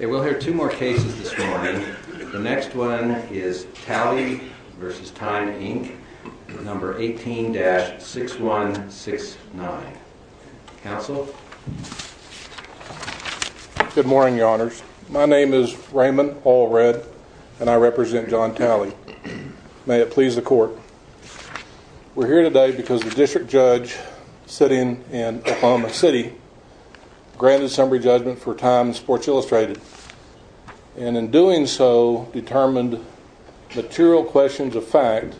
18-6169. Good morning, your honors. My name is Raymond Allred and I represent John Talley. May it please the court. We're here today because the district judge sitting in Oklahoma City granted summary judgment for Time and Sports Illustrated and in doing so determined material questions of fact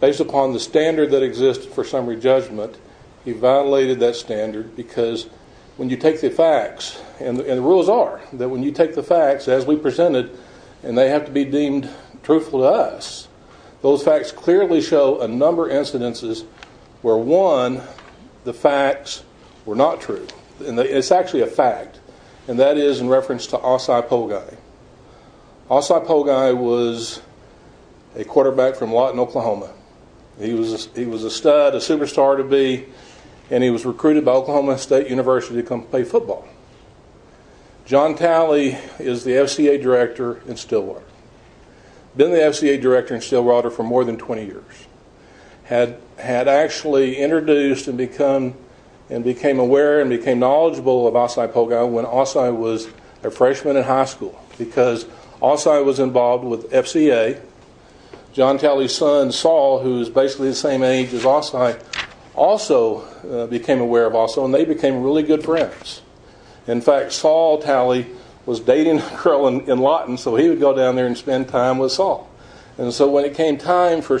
based upon the standard that existed for summary judgment. He violated that standard because when you take the facts, and the rules are that when you take the facts as we presented and they have to be deemed truthful to us, those facts clearly show a number of incidences where one, the facts were not true. It's actually a fact and that is in reference to Osai Poguei. Osai Poguei was a quarterback from Lawton, Oklahoma. He was a stud, a superstar to be, and he was recruited by Oklahoma State University to come play football. John Talley is the FCA director in Stillwater. Been the FCA director in Stillwater for more than 20 years. Had actually introduced and become, and became aware and became knowledgeable of Osai Poguei when Osai was a freshman in high school because Osai was involved with FCA. John Talley's son, Saul, who is basically the same age as Osai, also became aware of Osai. In fact, Saul Talley was dating a girl in Lawton, so he would go down there and spend time with Saul. And so when it came time for,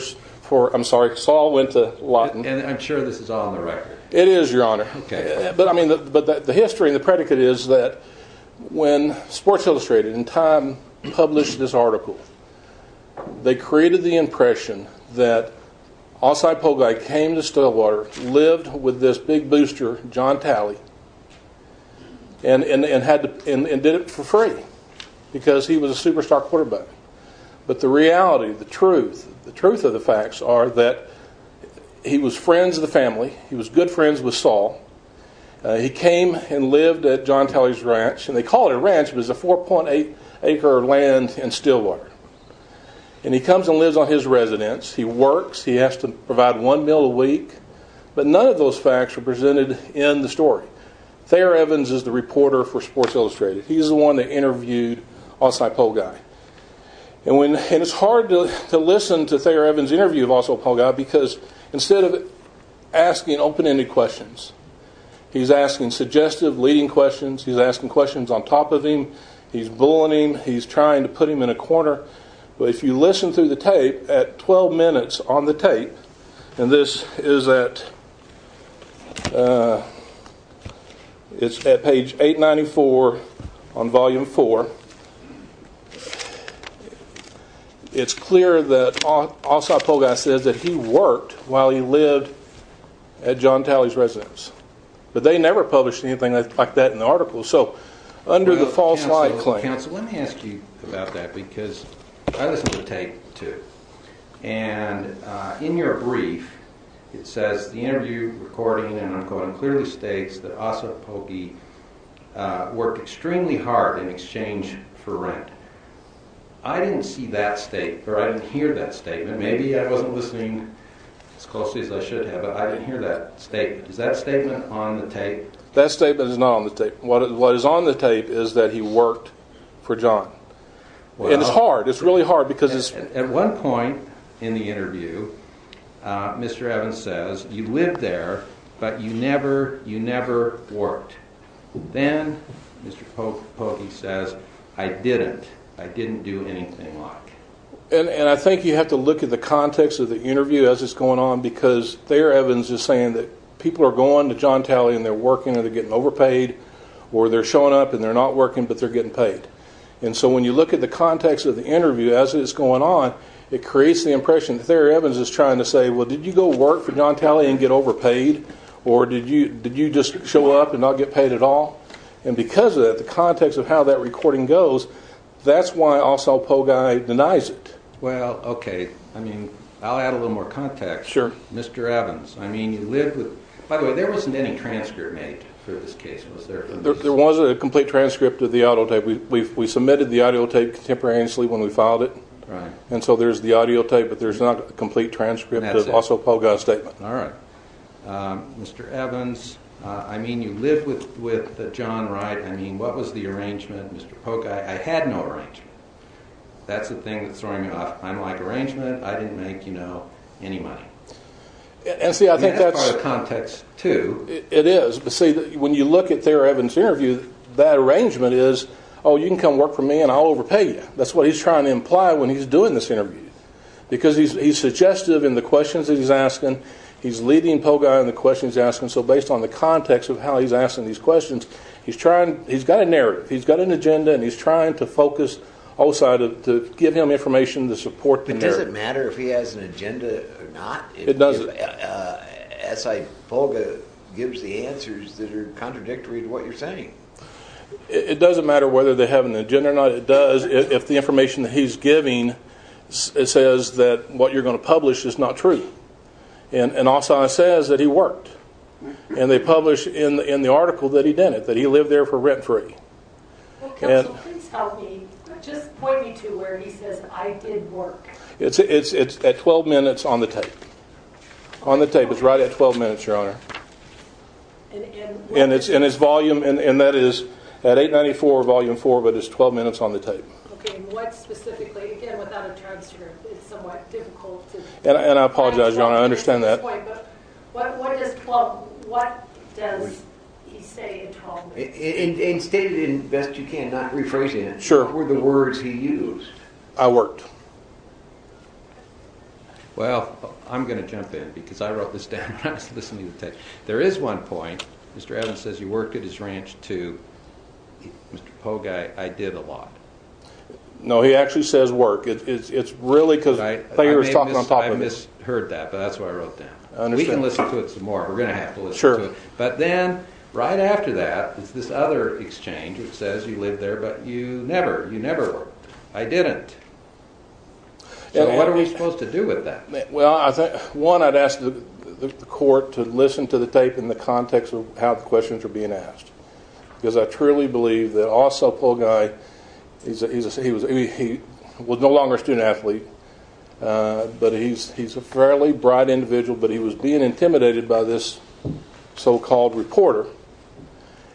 I'm sorry, Saul went to Lawton. And I'm sure this is on the record. It is, your honor. Okay. But I mean, but the history and the predicate is that when Sports Illustrated and Time published with this big booster, John Talley, and did it for free because he was a superstar quarterback. But the reality, the truth, the truth of the facts are that he was friends with the family. He was good friends with Saul. He came and lived at John Talley's ranch, and they called it a ranch, but it was a 4.8 acre of land in Stillwater. And he comes and lives on his residence. He works. He has to provide one meal a week. But none of those facts are presented in the story. Thayer Evans is the reporter for Sports Illustrated. He's the one that interviewed Osai Pogai. And when, and it's hard to listen to Thayer Evans' interview of Osai Pogai because instead of asking open-ended questions, he's asking suggestive, leading questions. He's asking questions on top of him. He's bullying him. He's trying to put him in a corner. But if you listen through the tape, at 12 minutes on the tape, and this is at, it's at page 894 on volume four, it's clear that Osai Pogai says that he worked while he lived at John Talley's residence. But they never published anything like that in the article. So under the false lie claim- I listened to the tape, too. And in your brief, it says, the interview recording and I'm quoting, clearly states that Osai Pogai worked extremely hard in exchange for rent. I didn't see that statement, or I didn't hear that statement. Maybe I wasn't listening as closely as I should have, but I didn't hear that statement. Is that statement on the tape? That statement is not on the tape. What is on the tape is that he worked for John. And it's hard. It's really hard, because it's- At one point in the interview, Mr. Evans says, you lived there, but you never, you never worked. Then, Mr. Pogai says, I didn't, I didn't do anything like. And I think you have to look at the context of the interview as it's going on, because there Evans is saying that people are going to John Talley and they're working or they're getting overpaid, or they're showing up and they're not working, but they're getting paid. And so when you look at the context of the interview as it's going on, it creates the impression that there Evans is trying to say, well, did you go work for John Talley and get overpaid? Or did you, did you just show up and not get paid at all? And because of that, the context of how that recording goes, that's why Osai Pogai denies it. Well, okay. I mean, I'll add a little more context. Sure. Mr. Evans. I mean, you live with, by the way, there wasn't any transcript made for this case. There wasn't a complete transcript of the audio tape. We submitted the audio tape contemporaneously when we filed it. And so there's the audio tape, but there's not a complete transcript, but also Pogai's statement. All right. Mr. Evans. I mean, you live with, with John, right? I mean, what was the arrangement, Mr. Pogai? I had no arrangement. That's the thing that's throwing me off. I'm like arrangement. I didn't make, you know, any money. And see, I think that's the context too. It is. See, when you look at Thera Evans' interview, that arrangement is, oh, you can come work for me and I'll overpay you. That's what he's trying to imply when he's doing this interview. Because he's suggestive in the questions that he's asking. He's leading Pogai in the questions he's asking. So based on the context of how he's asking these questions, he's trying, he's got a narrative. He's got an agenda and he's trying to focus Osai to give him information to support the narrative. But does it matter if he has an agenda or not? It doesn't. But S. I. Pogai gives the answers that are contradictory to what you're saying. It doesn't matter whether they have an agenda or not. It does if the information that he's giving says that what you're going to publish is not true. And Osai says that he worked. And they publish in the article that he did it, that he lived there for rent-free. Well, Kip, so please help me, just point me to where he says, I did work. It's at 12 minutes on the tape. On the tape. It's right at 12 minutes, Your Honor. And it's volume, and that is at 894, volume 4, but it's 12 minutes on the tape. Okay, and what specifically? Again, without a transcript, it's somewhat difficult to- And I apologize, Your Honor. I understand that. Wait, but what does he say in 12 minutes? And state it as best you can, not rephrasing it. Sure. What were the words he used? I worked. Well, I'm going to jump in, because I wrote this down when I was listening to the tape. There is one point, Mr. Adams says you worked at his ranch, too. Mr. Pogue, I did a lot. No, he actually says work. It's really because Thayer was talking on top of it. I may have misheard that, but that's why I wrote it down. We can listen to it some more. We're going to have to listen to it. But then, right after that, there's this other exchange that says you lived there, but you never, you never worked. I didn't. So what are we supposed to do with that? Well, one, I'd ask the court to listen to the tape in the context of how the questions are being asked. Because I truly believe that also Pogue, he was no longer a student athlete, but he's a fairly bright individual, but he was being intimidated by this so-called reporter.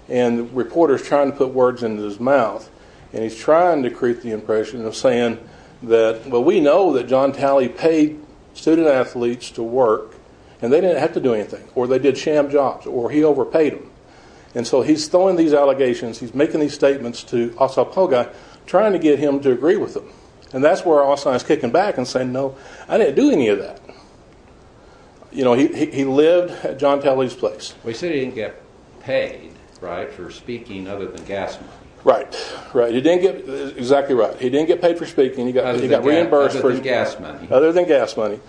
And the reporter's trying to put words into his mouth, and he's trying to create the impression of saying that, well, we know that John Talley paid student athletes to work, and they didn't have to do anything, or they did sham jobs, or he overpaid them. And so he's throwing these allegations, he's making these statements to also Pogue, trying to get him to agree with them. And that's where also I was kicking back and saying, no, I didn't do any of that. You know, he lived at John Talley's place. Well, you said he didn't get paid, right, for speaking other than gas money. Right. Right. You didn't get, exactly right. He didn't get paid for speaking. Other than gas money. He got reimbursed for speaking. Other than gas money.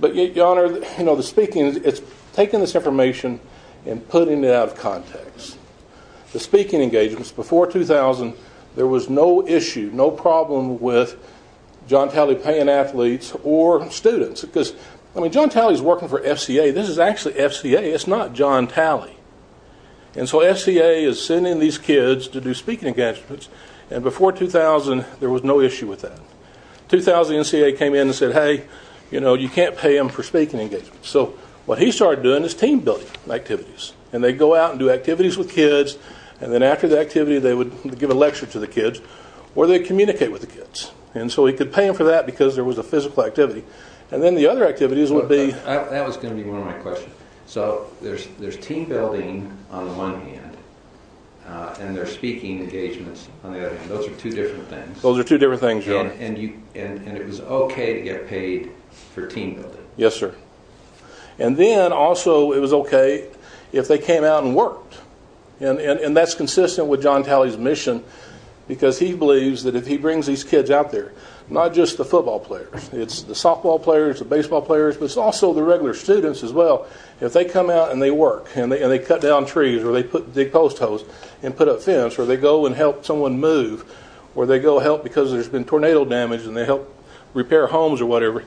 But, Your Honor, you know, the speaking, it's taking this information and putting it out of context. The speaking engagements before 2000, there was no issue, no problem with John Talley paying athletes or students. Because, I mean, John Talley's working for FCA, this is actually FCA. It's not John Talley. And so FCA is sending these kids to do speaking engagements, and before 2000, there was no issue with that. 2000, the NCA came in and said, hey, you know, you can't pay him for speaking engagements. So what he started doing is team building activities. And they'd go out and do activities with kids, and then after the activity, they would give a lecture to the kids, or they'd communicate with the kids. And so he could pay him for that because there was a physical activity. And then the other activities would be, That was going to be one of my questions. So there's team building on the one hand, and there's speaking engagements on the other hand. Those are two different things. Those are two different things, Your Honor. And it was okay to get paid for team building. Yes, sir. And then also, it was okay if they came out and worked. And that's consistent with John Talley's mission because he believes that if he brings these kids out there, not just the football players, it's the softball players, the baseball players, but it's also the regular students as well. If they come out and they work, and they cut down trees, or they dig post holes and put up fence, or they go and help someone move, or they go help because there's been tornado damage and they help repair homes or whatever,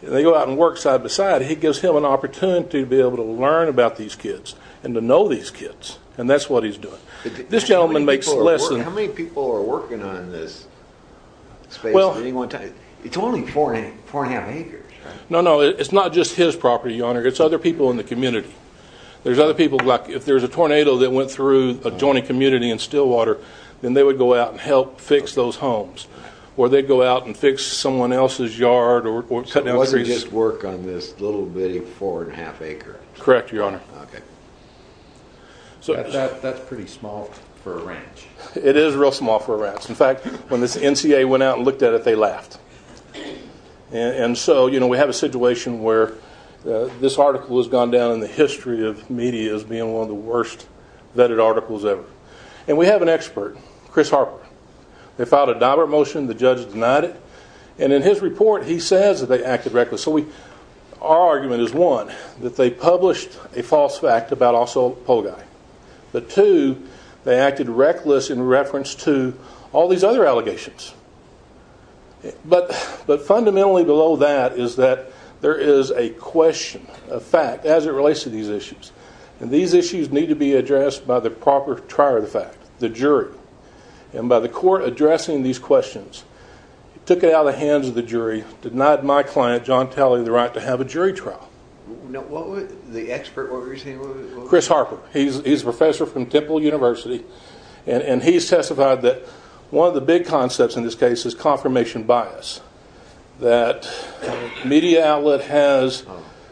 and they go out and work side by side, he gives him an opportunity to be able to learn about these kids and to know these kids. And that's what he's doing. This gentleman makes less than... How many people are working on this space at any one time? It's only four and a half acres, right? No, no. It's not just his property, your honor. It's other people in the community. There's other people, like if there's a tornado that went through a joining community in Stillwater, then they would go out and help fix those homes. Or they'd go out and fix someone else's yard or cut down trees. So it wasn't just work on this little bitty four and a half acres? Correct, your honor. Okay. That's pretty small for a ranch. It is real small for a ranch. In fact, when this NCA went out and looked at it, they laughed. And so, you know, we have a situation where this article has gone down in the history of media as being one of the worst vetted articles ever. And we have an expert, Chris Harper. They filed a divert motion. The judge denied it. And in his report, he says that they acted reckless. So our argument is, one, that they published a false fact about also a pole guy. But two, they acted reckless in reference to all these other allegations. But fundamentally below that is that there is a question, a fact, as it relates to these issues. And these issues need to be addressed by the proper trier of the fact, the jury. And by the court addressing these questions, took it out of the hands of the jury, denied my client, John Talley, the right to have a jury trial. The expert what were you saying? Chris Harper. He's a professor from Temple University. And he's testified that one of the big concepts in this case is confirmation bias. That media outlet has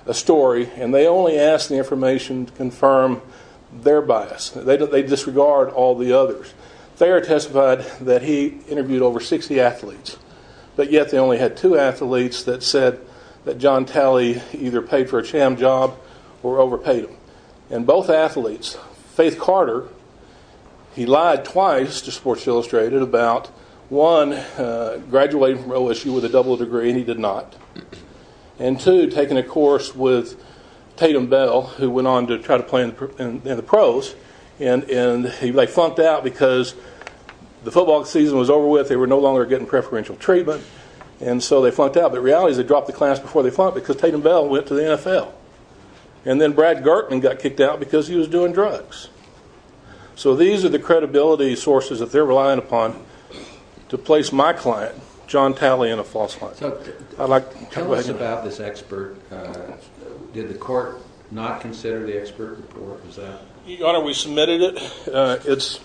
a story and they only ask the information to confirm their bias. They disregard all the others. They are testified that he interviewed over 60 athletes. But yet they only had two athletes that said that John Talley either paid for a sham job or overpaid him. And both athletes, Faith Carter, he lied twice to Sports Illustrated about, one, graduating from OSU with a double degree and he did not. And two, taking a course with Tatum Bell, who went on to try to play in the pros. And they flunked out because the football season was over with. They were no longer getting preferential treatment. And so they flunked out. But the reality is they dropped the class before they flunked because Tatum Bell went to the NFL. And then Brad Gartman got kicked out because he was doing drugs. So these are the credibility sources that they're relying upon to place my client, John Talley, in a false light. So tell us about this expert. Did the court not consider the expert report? Was that? Your Honor, we submitted it.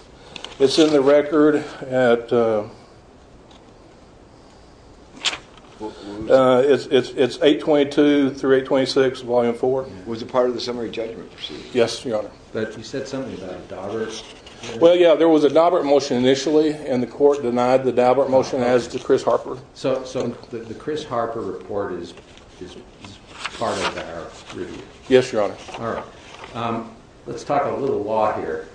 It's in the record. It's 822 through 826, Volume 4. Was it part of the summary judgment proceeding? Yes, Your Honor. But you said something about Daubert. Well, yeah, there was a Daubert motion initially and the court denied the Daubert motion as to Chris Harper. So the Chris Harper report is part of our review? Yes, Your Honor. All right. Let's talk a little law here.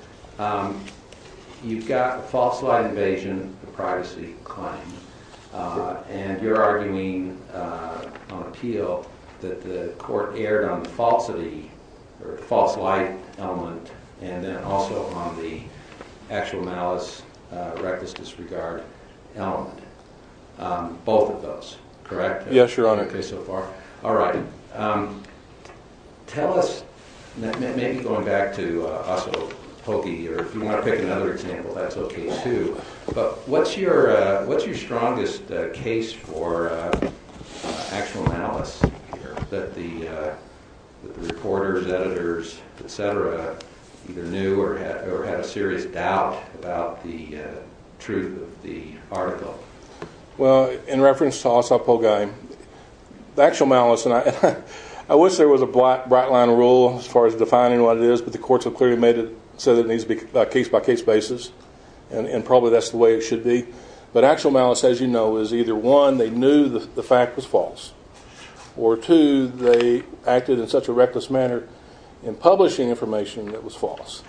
You've got a false light invasion, a privacy claim, and you're arguing on appeal that the court erred on the false light element and then also on the actual malice, reckless disregard element. Both of those, correct? Yes, Your Honor. Okay, so far. All right. Tell us, maybe going back to Osso Poggi, or if you want to pick another example, that's okay too, but what's your strongest case for actual malice here that the reporters, editors, et cetera, either knew or had a serious doubt about the truth of the article? Well, in reference to Osso Poggi, the actual malice, and I wish there was a bright line rule as far as defining what it is, but the courts have clearly made it so that it needs to be a case-by-case basis, and probably that's the way it should be. But actual malice, as you know, is either one, they knew the fact was false, or two, they acted in such a reckless manner in publishing information that was false.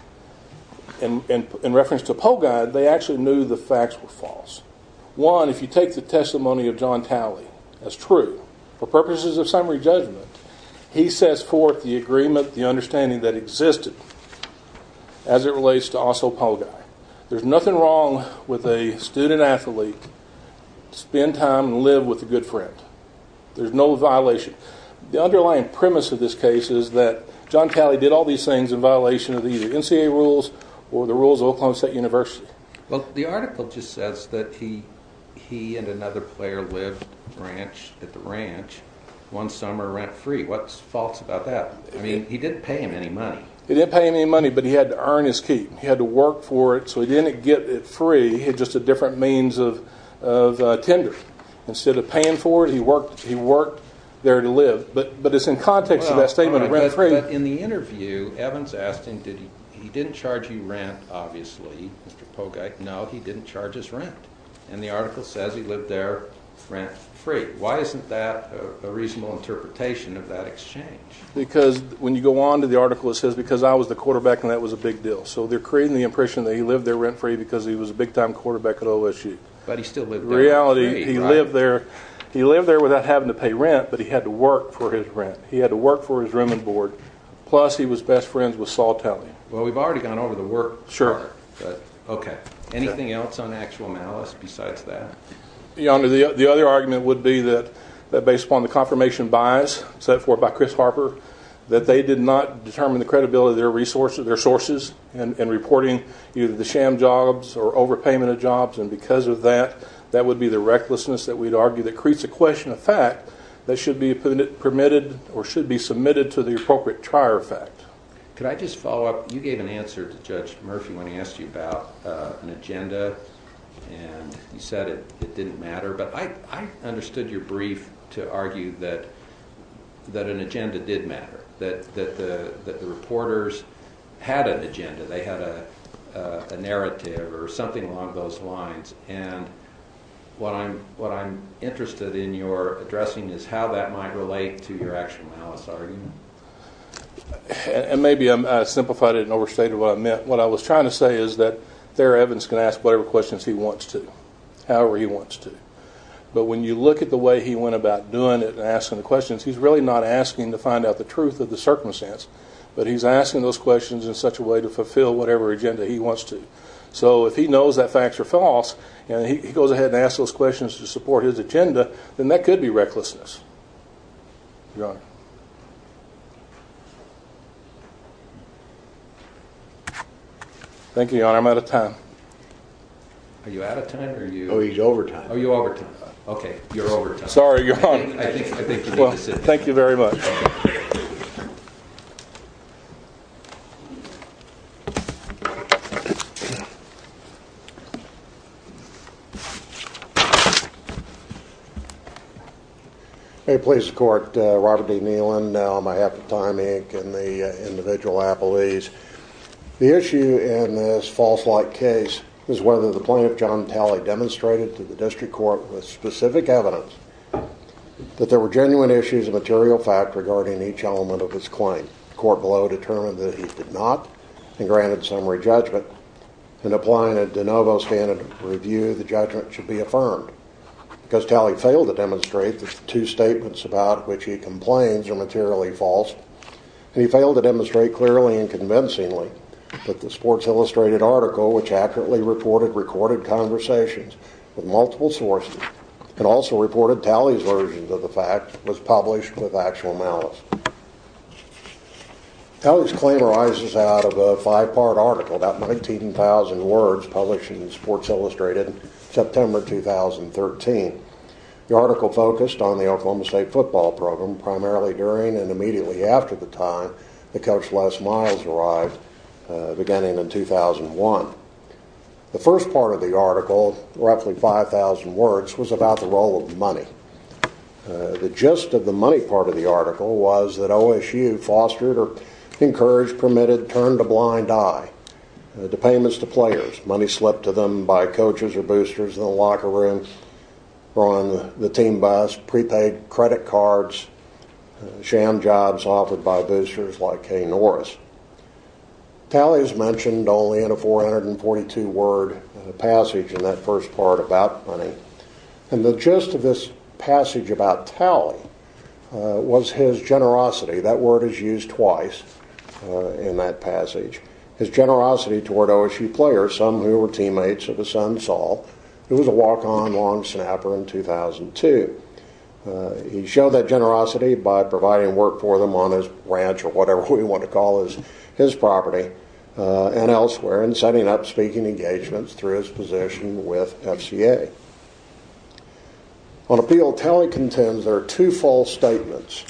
In reference to Poggi, they actually knew the facts were false. One, if you take the testimony of John Talley, that's true, for purposes of summary judgment, he sets forth the agreement, the understanding that existed as it relates to Osso Poggi. There's nothing wrong with a student athlete to spend time and live with a good friend. There's no violation. The underlying premise of this case is that John Talley did all these things in violation of the NCAA rules or the rules of Oklahoma State University. Well, the article just says that he and another player lived at the ranch one summer rent-free. What's false about that? I mean, he didn't pay him any money. He didn't pay him any money, but he had to earn his keep. He had to work for it, so he didn't get it free. He had just a different means of tendering. Instead of paying for it, he worked there to live. But it's in context of that statement of rent-free. But in the interview, Evans asked him, he didn't charge you rent, obviously, Mr. Poggi. No, he didn't charge his rent. And the article says he lived there rent-free. Why isn't that a reasonable interpretation of that exchange? Because when you go on to the article, it says, because I was the quarterback and that was a big deal. So they're creating the impression that he lived there rent-free because he was a big-time quarterback at OSU. But he still lived there rent-free, right? In reality, he lived there without having to pay rent, but he had to work for his rent. Plus, he was best friends with Saul Talley. Well, we've already gone over the work. Sure. Okay. Anything else on actual malice besides that? Your Honor, the other argument would be that based upon the confirmation bias set forth by Chris Harper, that they did not determine the credibility of their resources, their sources, in reporting either the sham jobs or overpayment of jobs. And because of that, that would be the recklessness that we'd argue that creates a question of fact that should be permitted or should be submitted to the appropriate trier effect. Could I just follow up? You gave an answer to Judge Murphy when he asked you about an agenda, and you said it didn't matter. But I understood your brief to argue that an agenda did matter, that the reporters had an agenda. They had a narrative or something along those lines. And what I'm interested in your addressing is how that might relate to your actual malice argument. And maybe I simplified it and overstated what I meant. What I was trying to say is that Thera Evans can ask whatever questions he wants to, however he wants to. But when you look at the way he went about doing it and asking the questions, he's really not asking to find out the truth of the circumstance, but he's asking those questions in such a way to fulfill whatever agenda he wants to. So if he knows that facts are false and he goes ahead and asks those questions to support his agenda, then that could be recklessness. Thank you, Your Honor. I'm out of time. Are you out of time? Oh, he's over time. Oh, you're over time. Okay, you're over time. Sorry, Your Honor. I think you need to sit down. Well, thank you very much. Thank you. May it please the Court, Robert D. Nealon, on behalf of Time, Inc. and the individual appellees. The issue in this false-like case is whether the plaintiff, John Talley, demonstrated to the district court with specific evidence that there were genuine issues of material fact regarding each element of his claim. The court below determined that he did not and granted summary judgment. In applying a de novo standard review, the judgment should be affirmed, because Talley failed to demonstrate that the two statements about which he complains are materially false, and he failed to demonstrate clearly and convincingly that the Sports Illustrated article, which accurately reported recorded conversations with multiple sources and also reported Talley's version of the fact, was published with actual malice. Talley's claim arises out of a five-part article, about 19,000 words, published in Sports Illustrated in September 2013. The article focused on the Oklahoma State football program, primarily during and immediately after the time that Coach Les Miles arrived, beginning in 2001. The first part of the article, roughly 5,000 words, was about the role of money. The gist of the money part of the article was that OSU fostered or encouraged, permitted, turned a blind eye to payments to players. Money slipped to them by coaches or boosters in the locker room or on the team bus, prepaid credit cards, sham jobs offered by boosters like Kay Norris. Talley is mentioned only in a 442-word passage in that first part about money. The gist of this passage about Talley was his generosity. That word is used twice in that passage. His generosity toward OSU players, some who were teammates of his son, Saul, who was a walk-on long snapper in 2002. He showed that generosity by providing work for them on his ranch or whatever we want to call his property and elsewhere and setting up speaking engagements through his position with FCA. On appeal, Talley contends there are two false statements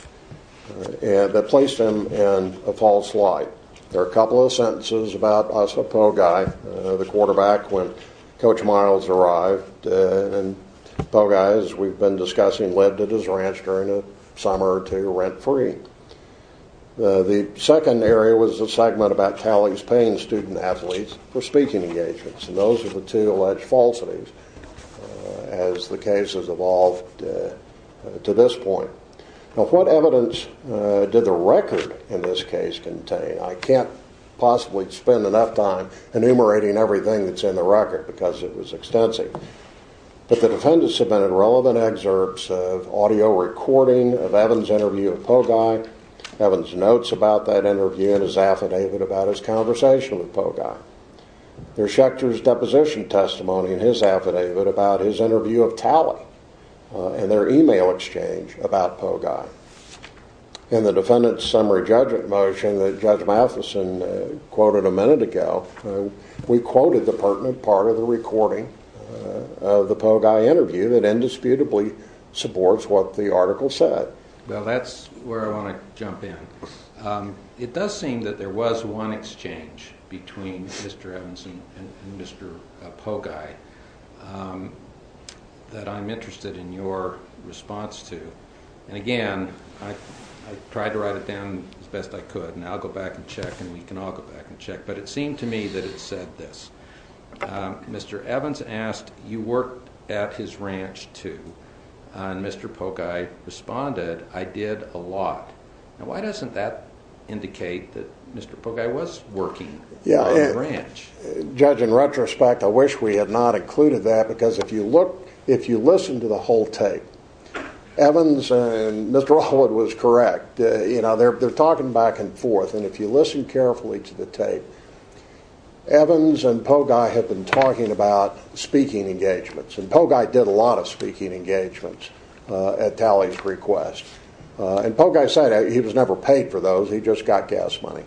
that placed him in a false light. There are a couple of sentences about us at Po'Guy, the quarterback, when Coach Miles arrived. Po'Guy, as we've been discussing, lived at his ranch during the summer to rent free. The second area was a segment about Talley's paying student athletes for speaking engagements. Those are the two alleged falsities as the case has evolved to this point. What evidence did the record in this case contain? I can't possibly spend enough time enumerating everything that's in the record because it was extensive. The defendant submitted relevant excerpts of audio recording of Evans' interview of Po'Guy, Evans' notes about that interview, and his affidavit about his conversation with Po'Guy. There's Schechter's deposition testimony in his affidavit about his interview of Talley and their email exchange about Po'Guy. In the defendant's summary judgment motion that Judge Matheson quoted a minute ago, we quoted the pertinent part of the recording of the Po'Guy interview that indisputably supports what the article said. Well, that's where I want to jump in. It does seem that there was one exchange between Mr. Evans and Mr. Po'Guy that I'm interested in your response to. Again, I tried to write it down as best I could, and I'll go back and check, and we can all go back and check. But it seemed to me that it said this. Mr. Evans asked, you worked at his ranch, too. And Mr. Po'Guy responded, I did a lot. Now, why doesn't that indicate that Mr. Po'Guy was working at his ranch? Judge, in retrospect, I wish we had not included that because if you listen to the whole tape, Evans and Mr. Allwood was correct. They're talking back and forth, and if you listen carefully to the tape, Evans and Po'Guy have been talking about speaking engagements, and Po'Guy did a lot of speaking engagements at Talley's request. And Po'Guy said he was never paid for those, he just got gas money.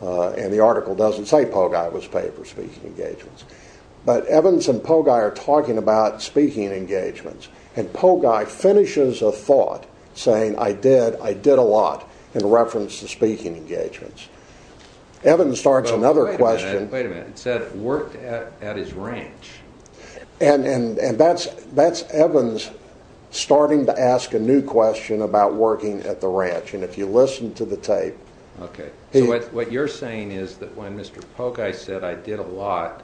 And the article doesn't say Po'Guy was paid for speaking engagements. But Evans and Po'Guy are talking about speaking engagements, and Po'Guy finishes a thought saying I did, I did a lot in reference to speaking engagements. Evans starts another question. Wait a minute, it said worked at his ranch. And that's Evans starting to ask a new question about working at the ranch. And if you listen to the tape. Okay, so what you're saying is that when Mr. Po'Guy said I did a lot,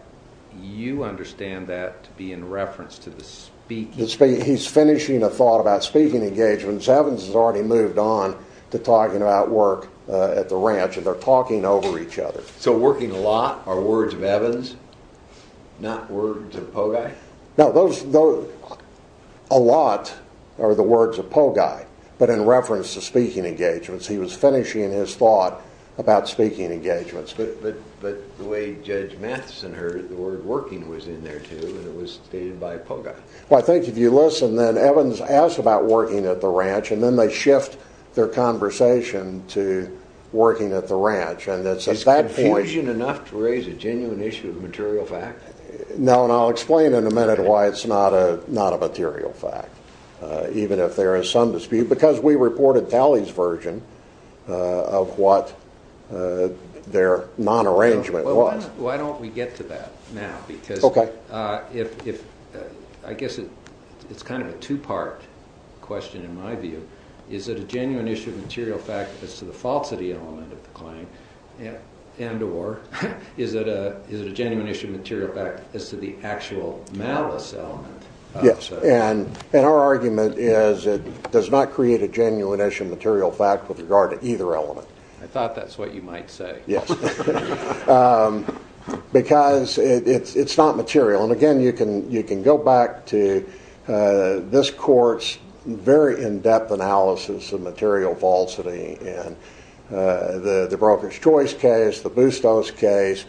you understand that to be in reference to the speaking engagements. He's finishing a thought about speaking engagements. Evans has already moved on to talking about work at the ranch, and they're talking over each other. So working a lot are words of Evans, not words of Po'Guy? No, a lot are the words of Po'Guy, but in reference to speaking engagements. He was finishing his thought about speaking engagements. But the way Judge Matheson heard it, the word working was in there too, and it was stated by Po'Guy. Well, I think if you listen, then Evans asks about working at the ranch, and then they shift their conversation to working at the ranch. Is confusion enough to raise a genuine issue of material fact? No, and I'll explain in a minute why it's not a material fact, even if there is some dispute, because we reported Talley's version of what their non-arrangement was. Why don't we get to that now? Because I guess it's kind of a two-part question in my view. Is it a genuine issue of material fact as to the falsity element of the claim, and or is it a genuine issue of material fact as to the actual malice element? Yes, and our argument is it does not create a genuine issue of material fact with regard to either element. I thought that's what you might say. Yes, because it's not material, and again you can go back to this court's very in-depth analysis of material falsity in the Broker's Choice case, the Bustos case.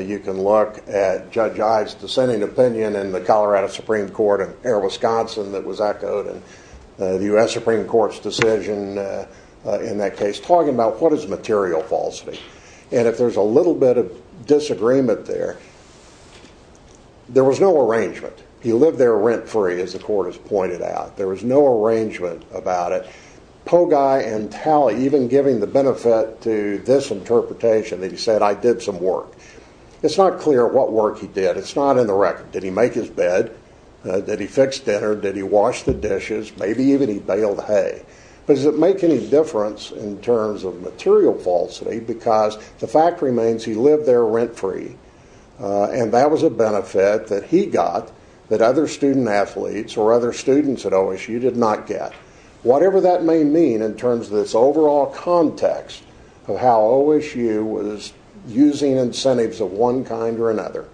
You can look at Judge Ives' dissenting opinion in the Colorado Supreme Court in Erie, Wisconsin that was echoed in the U.S. Supreme Court's decision in that case talking about what is material falsity, and if there's a little bit of disagreement there, there was no arrangement. He lived there rent-free, as the court has pointed out. There was no arrangement about it. Pogueye and Talley even giving the benefit to this interpretation that he said, I did some work. It's not clear what work he did. It's not in the record. Did he make his bed? Did he fix dinner? Did he wash the dishes? Maybe even he baled hay. But does it make any difference in terms of material falsity because the fact remains he lived there rent-free, and that was a benefit that he got that other student athletes or other students at OSU did not get. Whatever that may mean in terms of this overall context of how OSU was using incentives of one kind or another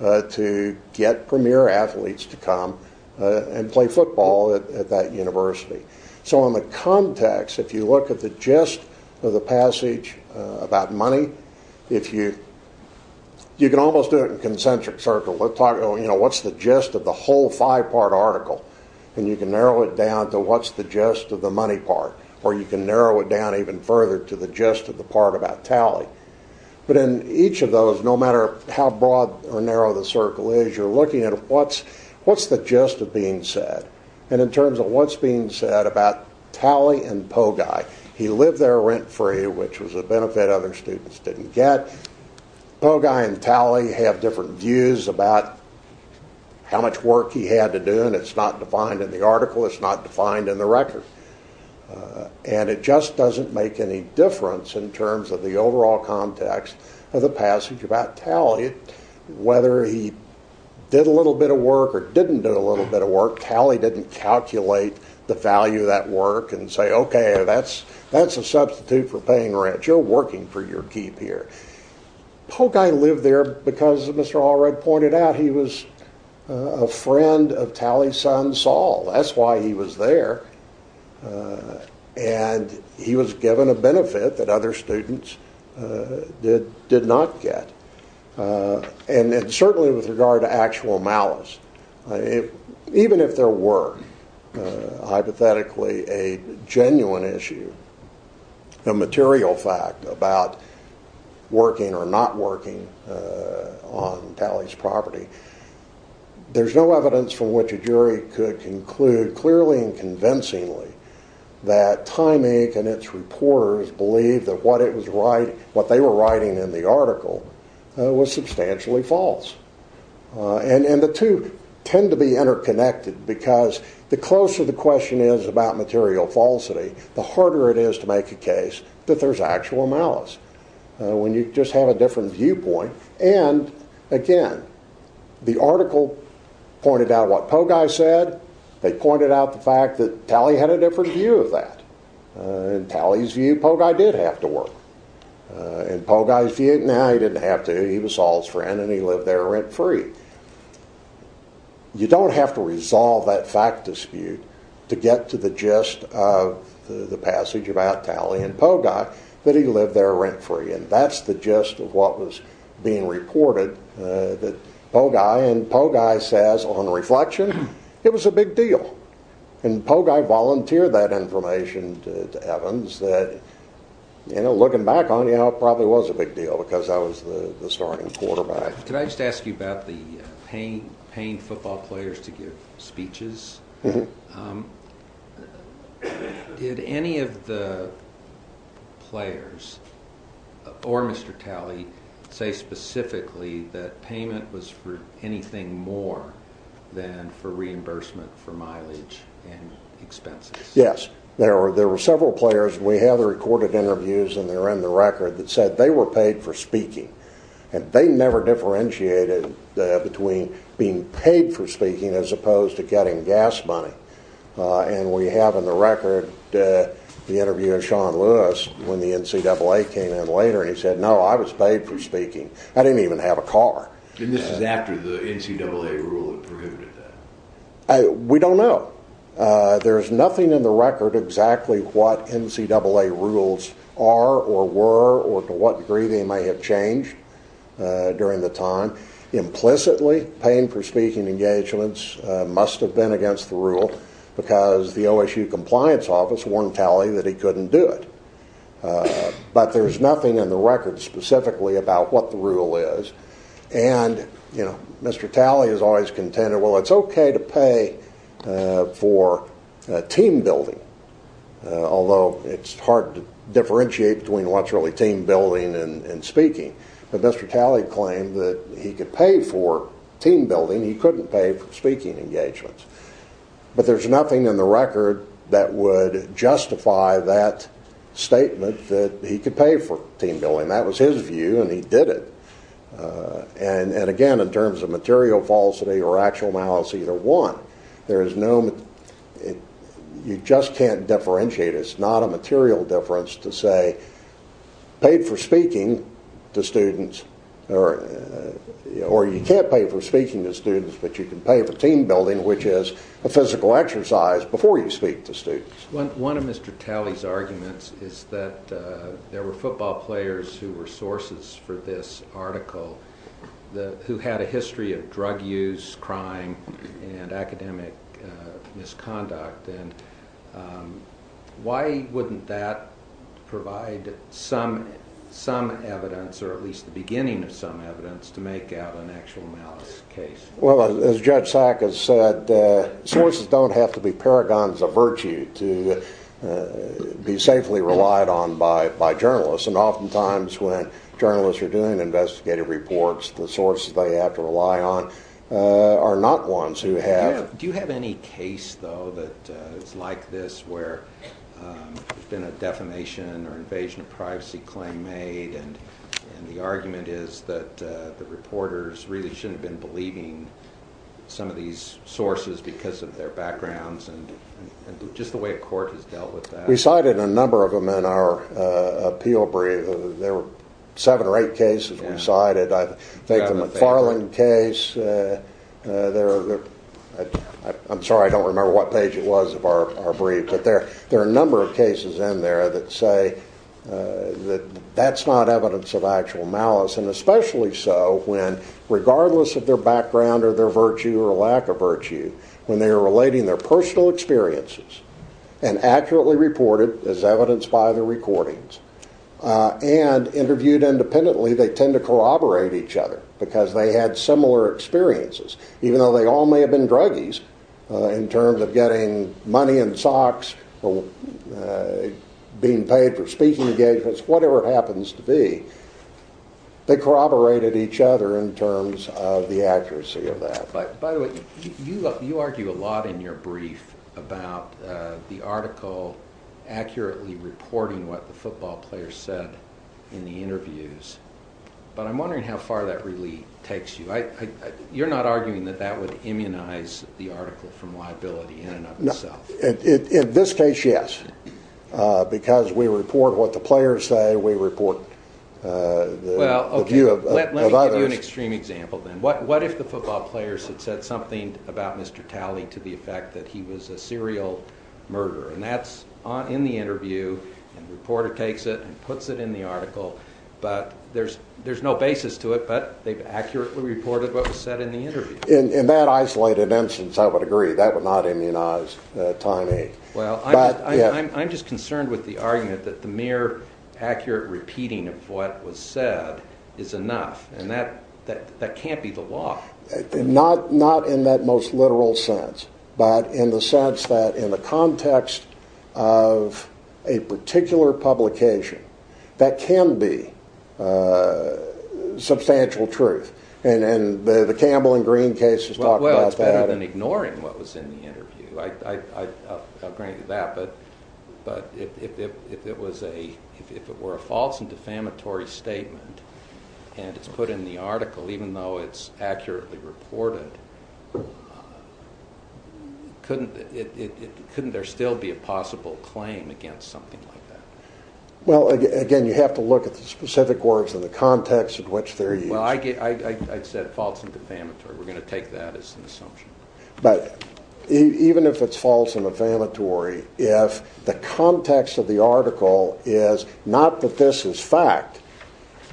to get premier athletes to come and play football at that university. So in the context, if you look at the gist of the passage about money, you can almost do it in a concentric circle. What's the gist of the whole five-part article? You can narrow it down to what's the gist of the money part, or you can narrow it down even further to the gist of the part about Talley. But in each of those, no matter how broad or narrow the circle is, you're looking at what's the gist of being said. And in terms of what's being said about Talley and Pogai, he lived there rent-free, which was a benefit other students didn't get. Pogai and Talley have different views about how much work he had to do, and it's not defined in the article. It's not defined in the record. And it just doesn't make any difference in terms of the overall context of the passage about Talley. Whether he did a little bit of work or didn't do a little bit of work, Talley didn't calculate the value of that work and say, okay, that's a substitute for paying rent. You're working for your keep here. Pogai lived there because, as Mr. Allred pointed out, he was a friend of Talley's son, Saul. That's why he was there. And he was given a benefit that other students did not get. And certainly with regard to actual malice. Even if there were hypothetically a genuine issue, a material fact about working or not working on Talley's property, there's no evidence from which a jury could conclude clearly and convincingly that Time Inc. and its reporters believed that what they were writing in the article was substantially false. And the two tend to be interconnected because the closer the question is about material falsity, the harder it is to make a case that there's actual malice when you just have a different viewpoint. And, again, the article pointed out what Pogai said. They pointed out the fact that Talley had a different view of that. In Talley's view, Pogai did have to work. In Pogai's view, no, he didn't have to. He was Saul's friend, and he lived there rent-free. You don't have to resolve that fact dispute to get to the gist of the passage about Talley and Pogai that he lived there rent-free. And that's the gist of what was being reported. And Pogai says, on reflection, it was a big deal. And Pogai volunteered that information to Evans. Looking back on it, it probably was a big deal because I was the starting quarterback. Could I just ask you about the paying football players to give speeches? Mm-hmm. Did any of the players, or Mr. Talley, say specifically that payment was for anything more than for reimbursement for mileage and expenses? Yes. There were several players. We have the recorded interviews, and they're in the record, that said they were paid for speaking. And they never differentiated between being paid for speaking as opposed to getting gas money. And we have in the record the interview of Sean Lewis when the NCAA came in later, and he said, No, I was paid for speaking. I didn't even have a car. And this is after the NCAA rule prohibited that? We don't know. There's nothing in the record exactly what NCAA rules are or were or to what degree they may have changed during the time. Implicitly, paying for speaking engagements must have been against the rule because the OSU compliance office warned Talley that he couldn't do it. But there's nothing in the record specifically about what the rule is. And Mr. Talley has always contended, Well, it's okay to pay for team building, although it's hard to differentiate between what's really team building and speaking. But Mr. Talley claimed that he could pay for team building. He couldn't pay for speaking engagements. But there's nothing in the record that would justify that statement that he could pay for team building. That was his view, and he did it. And again, in terms of material falsity or actual malice, either one. You just can't differentiate. It's not a material difference to say, paid for speaking to students, or you can't pay for speaking to students, but you can pay for team building, which is a physical exercise before you speak to students. One of Mr. Talley's arguments is that there were football players who were sources for this article who had a history of drug use, crime, and academic misconduct. Why wouldn't that provide some evidence, or at least the beginning of some evidence, to make out an actual malice case? Well, as Judge Sack has said, sources don't have to be paragons of virtue to be safely relied on by journalists. And oftentimes when journalists are doing investigative reports, the sources they have to rely on are not ones who have. Do you have any case, though, that is like this, where there's been a defamation or invasion of privacy claim made, and the argument is that the reporters really shouldn't have been believing some of these sources because of their backgrounds, and just the way a court has dealt with that. We cited a number of them in our appeal brief. There were seven or eight cases we cited. I think the McFarland case. I'm sorry, I don't remember what page it was of our brief, but there are a number of cases in there that say that that's not evidence of actual malice, and especially so when, regardless of their background or their virtue or lack of virtue, when they are relating their personal experiences and accurately reported as evidenced by the recordings and interviewed independently, they tend to corroborate each other because they had similar experiences. Even though they all may have been druggies in terms of getting money in socks or being paid for speaking engagements, whatever it happens to be, they corroborated each other in terms of the accuracy of that. By the way, you argue a lot in your brief about the article accurately reporting what the football players said in the interviews, but I'm wondering how far that really takes you. You're not arguing that that would immunize the article from liability in and of itself. In this case, yes, because we report what the players say, we report the view of others. Let me give you an extreme example, then. What if the football players had said something about Mr. Talley to the effect that he was a serial murderer? And that's in the interview, and the reporter takes it and puts it in the article, but there's no basis to it, but they've accurately reported what was said in the interview. In that isolated instance, I would agree. That would not immunize Time 8. I'm just concerned with the argument that the mere accurate repeating of what was said is enough, and that can't be the law. Not in that most literal sense, but in the sense that in the context of a particular publication, that can be substantial truth, and the Campbell and Green cases talk about that. Well, it's better than ignoring what was in the interview. I'll grant you that, but if it were a false and defamatory statement and it's put in the article, even though it's accurately reported, couldn't there still be a possible claim against something like that? Well, again, you have to look at the specific words and the context in which they're used. Well, I said false and defamatory. We're going to take that as an assumption. But even if it's false and defamatory, if the context of the article is not that this is fact,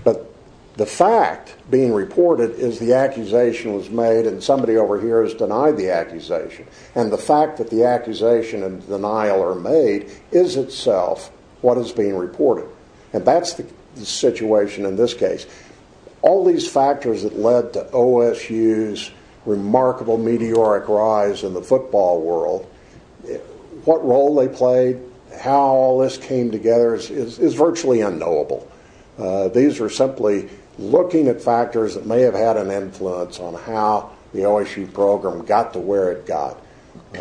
but the fact being reported is the accusation was made and somebody over here has denied the accusation, and the fact that the accusation and denial are made is itself what is being reported, and that's the situation in this case. All these factors that led to OSU's remarkable meteoric rise in the football world, what role they played, how all this came together is virtually unknowable. These are simply looking at factors that may have had an influence on how the OSU program got to where it got,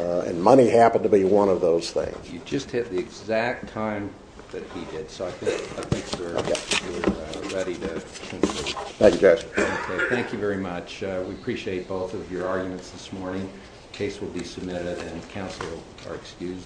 and money happened to be one of those things. You just hit the exact time that he did, so I think, sir, you're ready to conclude. Thank you, Judge. Okay, thank you very much. We appreciate both of your arguments this morning. The case will be submitted and counsel are excused.